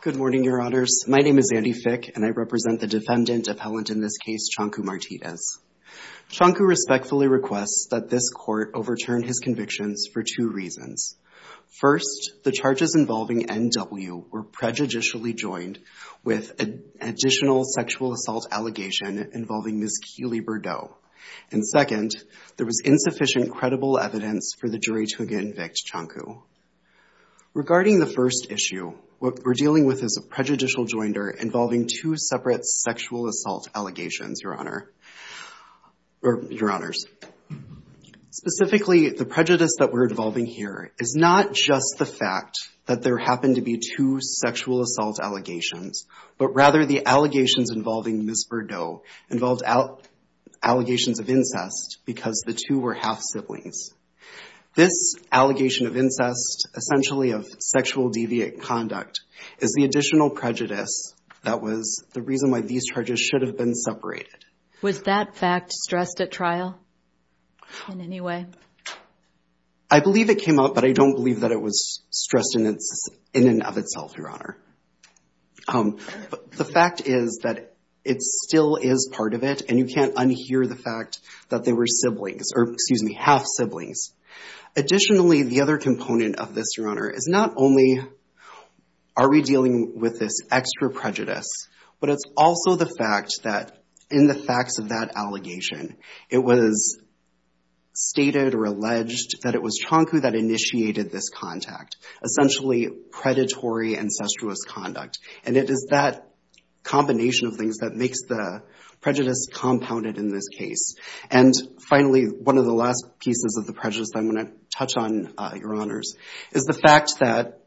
Good morning, your honors. My name is Andy Fick, and I represent the defendant appellant in this case, Canku Martinez. Canku respectfully requests that this court overturn his convictions for two reasons. First, the charges involving N.W. were prejudicially joined with an additional sexual assault allegation involving Ms. Keely Bordeaux. And second, there was insufficient credible evidence for the jury to convict Canku. Regarding the first issue, what we're dealing with is a prejudicial joinder involving two separate sexual assault allegations, your honor. Or your honors. Specifically, the prejudice that we're involving here is not just the fact that there happened to be two sexual assault allegations, but rather the allegations involving Ms. Bordeaux involved allegations of incest because the two were half-siblings. This allegation of incest, essentially of sexual deviant conduct, is the additional prejudice that was the reason why these charges should have been separated. Was that fact stressed at trial in any way? I believe it came up, but I don't believe that it was stressed in and of itself, your honor. The fact is that it still is part of it, and you can't unhear the fact that they were siblings, or excuse me, half-siblings. Additionally, the other component of this, your honor, is not only are we dealing with this extra prejudice, but it's also the fact that in the facts of that allegation, it was stated or alleged that it was Chonku that initiated this contact. Essentially, predatory incestuous conduct. It is that combination of things that makes the prejudice compounded in this case. Finally, one of the last pieces of the prejudice that I'm going to touch on, your honors, is the fact that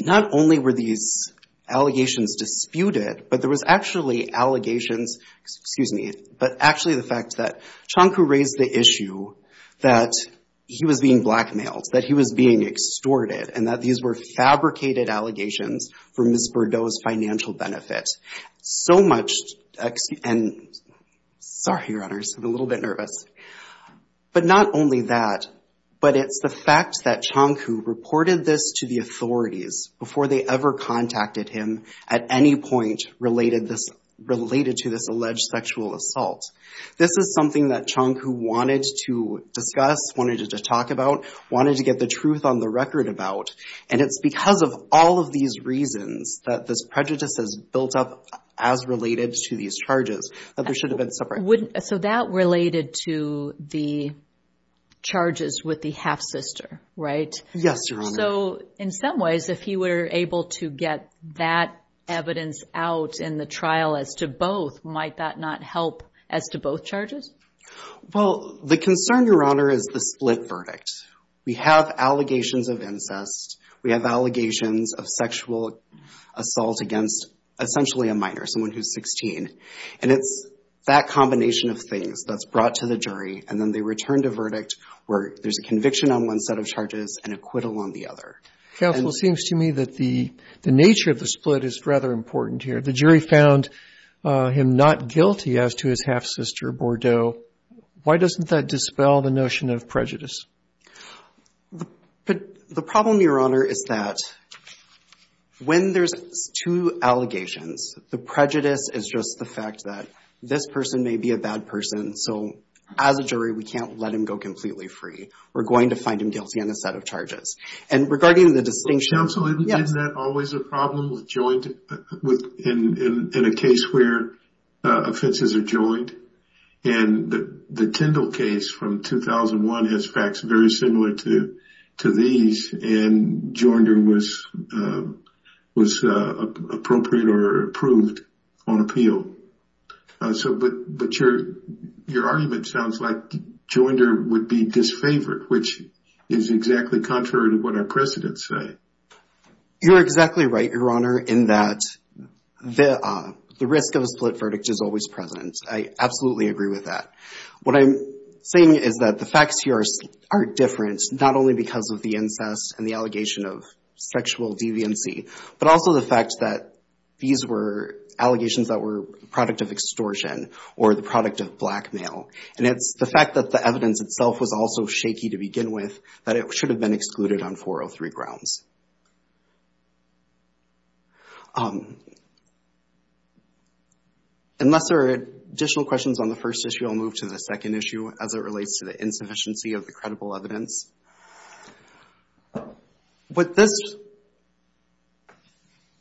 not only were these allegations disputed, but there was actually allegations, excuse me, but actually the fact that Chonku raised the issue that he was being blackmailed, that he was being extorted, and that these were fabricated allegations for Ms. Bordeaux's financial benefit. So much, and sorry, your honors, I'm a little bit nervous, but not only that, but it's the fact that Chonku reported this to the authorities before they ever contacted him at any point related to this alleged sexual assault. This is something that Chonku wanted to discuss, wanted to talk about, wanted to get the truth on the record about, and it's because of all of these reasons that this prejudice has built up as related to these charges, that there should have been separate- So that related to the charges with the half-sister, right? Yes, your honor. So in some ways, if he were able to get that evidence out in the trial as to both, might that not help as to both charges? Well, the concern, your honor, is the split verdict. We have allegations of incest, we have allegations of sexual assault against essentially a minor, someone who's 16, and it's that combination of things that's brought to the jury, and then they return to verdict where there's a conviction on one set of charges and acquittal on the other. Counsel, it seems to me that the nature of the split is rather important here. The jury found him not guilty as to his half-sister, Bordeaux. Why doesn't that dispel the notion of prejudice? The problem, your honor, is that when there's two allegations, the prejudice is just the fact that this person may be a bad person, so as a jury, we can't let him go completely free. We're going to find him guilty on a set of charges. And regarding the distinction- Counsel, isn't that always a problem with joint, in a case where offenses are joined? And the Tyndall case from 2001 has facts very similar to these, and jointer was appropriate or approved on appeal. But your argument sounds like jointer would be disfavored, which is exactly contrary to what our precedents say. You're exactly right, your honor, in that the risk of a split verdict is always present. I absolutely agree with that. What I'm saying is that the facts here are different, not only because of the incest and the allegation of sexual deviancy, but also the fact that these were allegations that were the product of extortion or the product of blackmail. And it's the fact that the evidence itself was also shaky to begin with that it should have been excluded on 403 grounds. Unless there are additional questions on the first issue, I'll move to the second issue as it relates to the insufficiency of the credible evidence. What this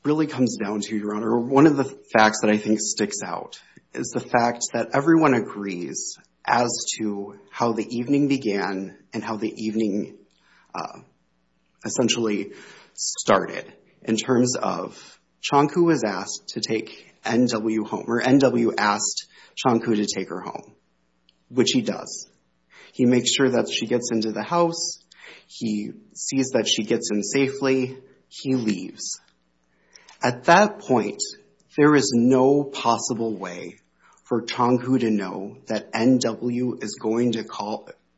really comes down to, your honor, one of the facts that I think sticks out is the fact that everyone agrees as to how the evening began and how the evening essentially started in terms of Chonku was asked to take N.W. home, or N.W. asked Chonku to take her home, which he does. He makes sure that she gets into the house. He sees that she gets in safely. He leaves. At that point, there is no possible way for Chonku to know that N.W. is going to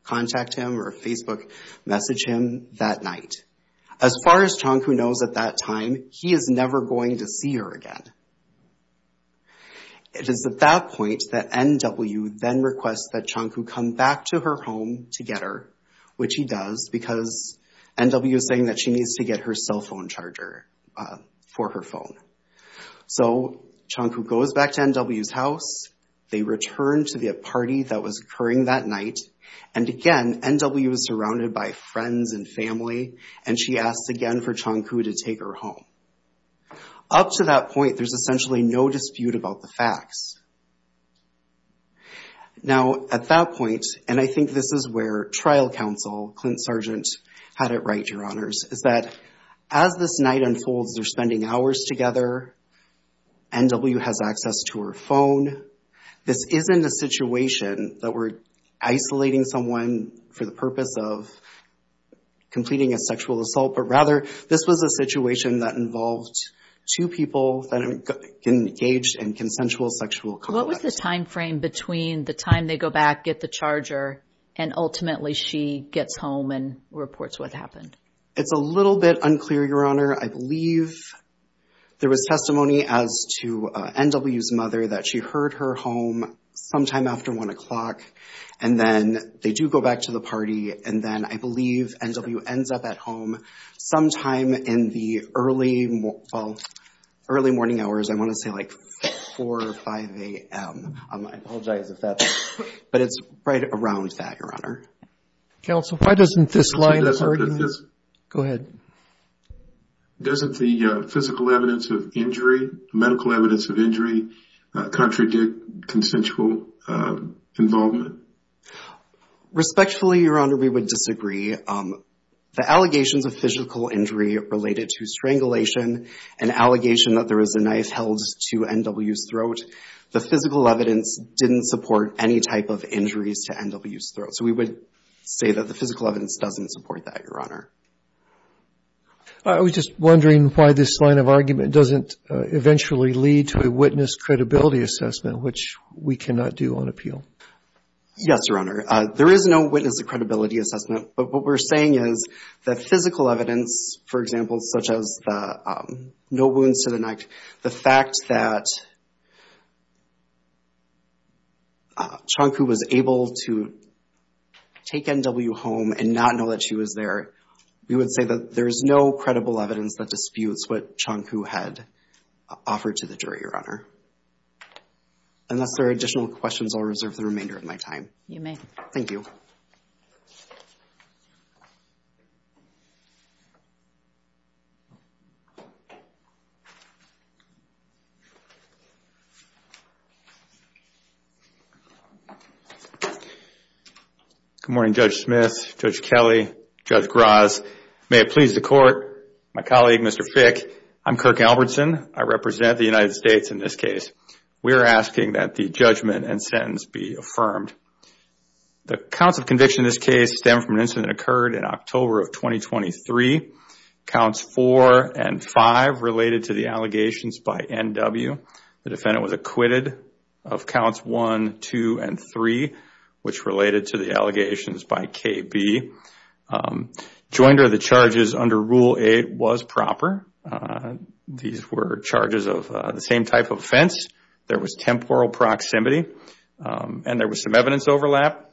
contact him or Facebook message him that night. As far as Chonku knows at that time, he is never going to see her again. It is at that point that N.W. then requests that Chonku come back to her home to get her, which he does, because N.W. is saying that she needs to get her cell phone charger for her phone. So Chonku goes back to N.W.'s house. They return to the party that was occurring that night. And again, N.W. is surrounded by friends and family, and she asks again for Chonku to take her home. Up to that point, there's essentially no dispute about the facts. Now, at that point, and I think this is where trial counsel, Clint Sargent, had it right, Your Honors, is that as this night unfolds, they're spending hours together. N.W. has access to her phone. This isn't a situation that we're isolating someone for the purpose of completing a sexual assault, but rather this was a situation that involved two people that engaged in consensual sexual contact. What was the timeframe between the time they go back, get the charger, and ultimately she gets home and reports what happened? It's a little bit unclear, Your Honor. I believe there was testimony as to N.W.'s mother that she heard her home sometime after 1 o'clock, and then they do go back to the party, and then I believe N.W. ends up at home sometime in the early morning hours. I want to say like 4 or 5 a.m. I apologize if that's but it's right around that, Your Honor. Counsel, why doesn't this line of argument... Go ahead. Doesn't the physical evidence of injury, medical evidence of injury, contradict consensual involvement? Respectfully, Your Honor, we would disagree. The allegations of physical injury related to strangulation, an allegation that there is a knife held to N.W.'s throat, the physical evidence didn't support any type of injuries to N.W.'s throat. So we would say that the physical evidence doesn't support that, Your Honor. I was just wondering why this line of argument doesn't eventually lead to a witness credibility assessment, which we cannot do on appeal. Yes, Your Honor. There is no witness credibility assessment, but what we're saying is that physical evidence, for example, such as no wounds to the neck, the fact that Chonku was able to take N.W. home and not know that she was there, we would say that there is no credible evidence that disputes what Chonku had offered to the jury, Your Honor. Unless there are additional questions, I'll reserve the remainder of my time. You may. Thank you. Good morning, Judge Smith, Judge Kelly, Judge Graz. May it please the Court, my colleague, Mr. Fick, I'm Kirk Albertson. I represent the United States in this case. We are asking that the judgment and sentence be affirmed. The counts of conviction in this case stem from an incident that occurred in October of 2023. Counts 4 and 5 related to the allegations by N.W. The defendant was acquitted of counts 1, 2, and 3, which related to the allegations by K.B. Joinder of the charges under Rule 8 was proper. These were charges of the same type of offense. There was temporal proximity, and there was some evidence overlap.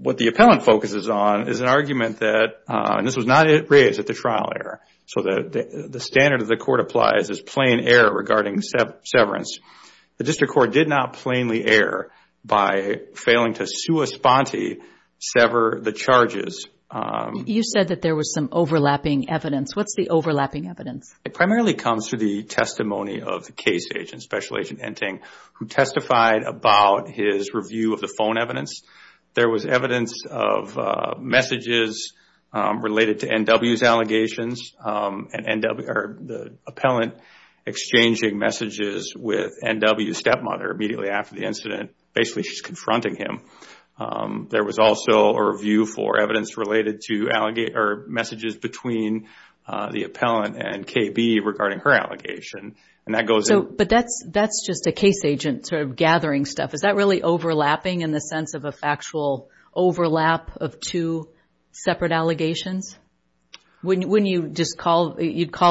What the appellant focuses on is an argument that, and this was not raised at the trial error, so the standard of the Court applies is plain error regarding severance. The District Court did not plainly err by failing to sua sponte, sever the charges. You said that there was some overlapping evidence. What's the overlapping evidence? It primarily comes to the testimony of the case agent, Special Agent Enting, who testified about his review of the phone evidence. There was evidence of messages related to N.W.'s allegations and the appellant exchanging messages with N.W.'s stepmother immediately after the incident. Basically, she's confronting him. There was also a review for evidence related to messages between the appellant and K.B. regarding her allegation. But that's just a case agent gathering stuff. Is that really overlapping in the sense of a factual overlap of two separate allegations? Wouldn't you call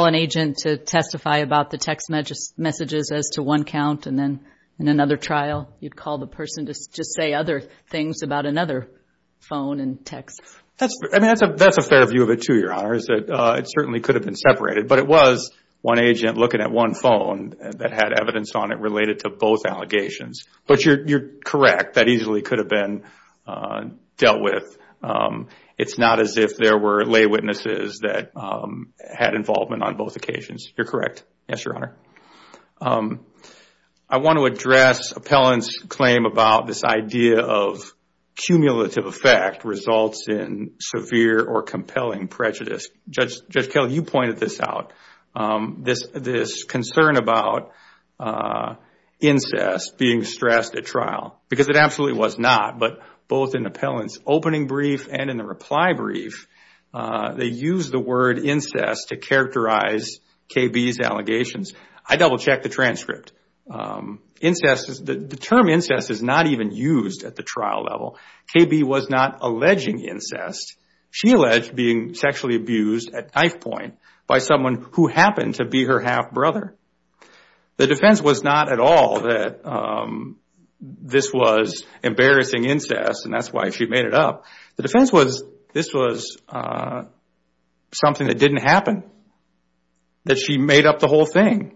an agent to testify about the text messages as to one count and then in another trial, you'd call the person to just say other things about another phone and text? That's a fair view of it, too, Your Honor. It certainly could have been separated, but it was one agent looking at one phone that had evidence on it related to both allegations. But you're correct. That easily could have been dealt with. It's not as if there were lay witnesses that had involvement on both occasions. You're correct. Yes, Your Honor. I want to address appellant's claim about this idea of cumulative effect results in severe or compelling prejudice. Judge Kelly, you pointed this out, this concern about incest being stressed at trial, because it absolutely was not. But both in appellant's opening brief and in the reply brief, they used the word incest to characterize K.B.'s allegations. I double-checked the transcript. The term incest is not even used at the trial level. K.B. was not alleging incest. She alleged being sexually abused at knife point by someone who happened to be her half-brother. The defense was not at all that this was embarrassing incest, and that's why she made it up. The defense was this was something that didn't happen, that she made up the whole thing.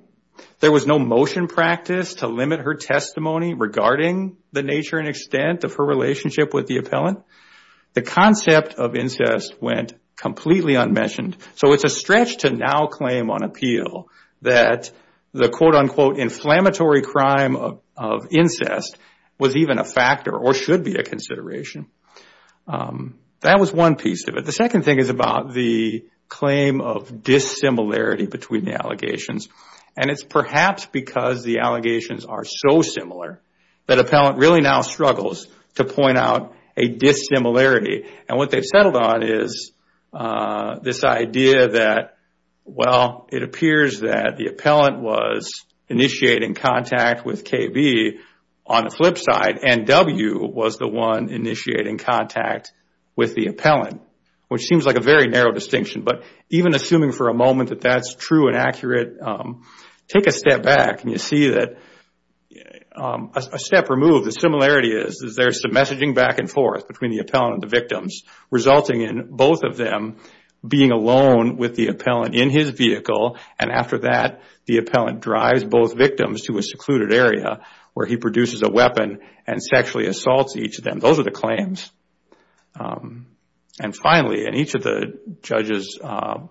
There was no motion practice to limit her testimony regarding the nature and extent of her relationship with the appellant. The concept of incest went completely unmentioned. So it's a stretch to now claim on appeal that the quote-unquote inflammatory crime of incest was even a factor or should be a consideration. That was one piece of it. The second thing is about the claim of dissimilarity between the allegations. And it's perhaps because the allegations are so similar that appellant really now struggles to point out a dissimilarity. And what they've settled on is this idea that, well, it appears that the appellant was initiating contact with K.B. on the flip side, and W. was the one initiating contact with the appellant, which seems like a very narrow distinction. But even assuming for a moment that that's true and accurate, take a step back and you see that a step removed. The similarity is there's some messaging back and forth between the appellant and the victims, resulting in both of them being alone with the appellant in his vehicle. And after that, the appellant drives both victims to a secluded area where he produces a weapon and sexually assaults each of them. Those are the claims. And finally, and each of the judges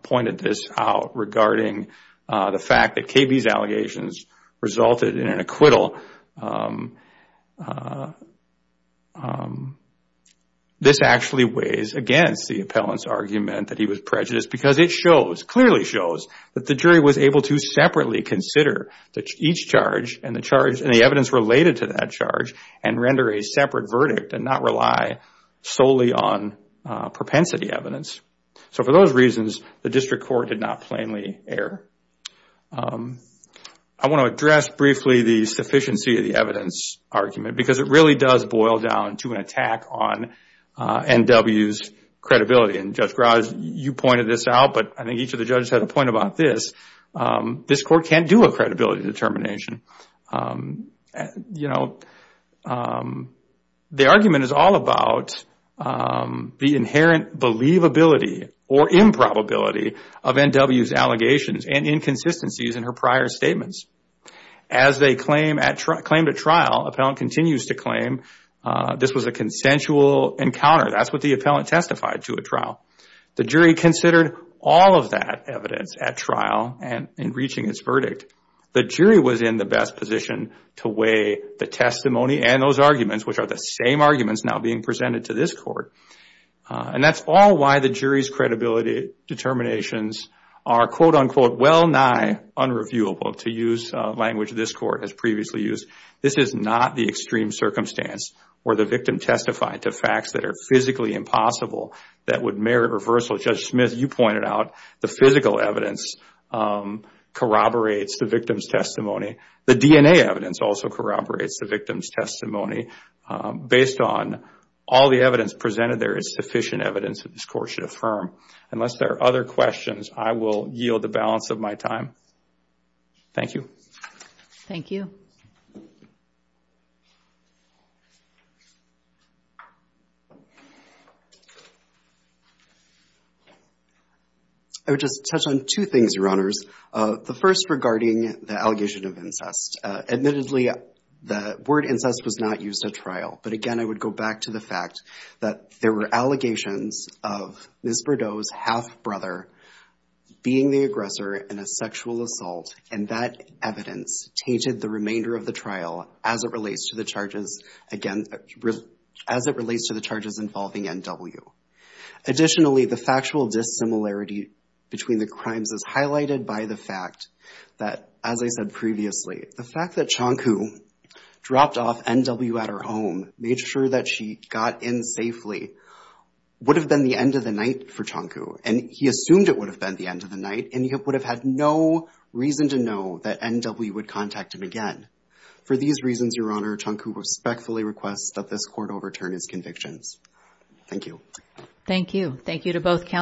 pointed this out regarding the fact that K.B.'s allegations resulted in an acquittal, this actually weighs against the appellant's argument that he was prejudiced because it shows, clearly shows, that the jury was able to separately consider each charge and the evidence related to that charge and render a separate verdict and not rely solely on propensity evidence. So for those reasons, the district court did not plainly err. I want to address briefly the sufficiency of the evidence argument because it really does boil down to an attack on N.W.'s credibility. And Judge Graz, you pointed this out, but I think each of the judges had a point about this. This court can't do a credibility determination. The argument is all about the inherent believability or improbability of N.W.'s allegations and inconsistencies in her prior statements. As they claimed at trial, the appellant continues to claim this was a consensual encounter. That's what the appellant testified to at trial. The jury considered all of that evidence at trial and in reaching its verdict, the jury was in the best position to weigh the testimony and those arguments, which are the same arguments now being presented to this court. And that's all why the jury's credibility determinations are, quote-unquote, well nigh unreviewable, to use language this court has previously used. This is not the extreme circumstance where the victim testified to facts that are physically impossible that would merit reversal. Judge Smith, you pointed out the physical evidence corroborates the victim's testimony. The DNA evidence also corroborates the victim's testimony. Based on all the evidence presented, there is sufficient evidence that this court should affirm. Unless there are other questions, I will yield the balance of my time. Thank you. Thank you. I would just touch on two things, Your Honors. The first regarding the allegation of incest. Admittedly, the word incest was not used at trial. But again, I would go back to the fact that there were allegations of Ms. Bordeaux's half-brother being the aggressor in a sexual assault. And that evidence tainted the remainder of the trial as it relates to the charges involving NW. Additionally, the factual dissimilarity between the crimes is highlighted by the fact that, as I said previously, the fact that Chonku dropped off NW at her home, made sure that she got in safely, would have been the end of the night for Chonku. And he assumed it would have been the end of the night, and he would have had no reason to know that NW would contact him again. For these reasons, Your Honor, Chonku respectfully requests that this court overturn his convictions. Thank you. Thank you. Thank you to both counsels.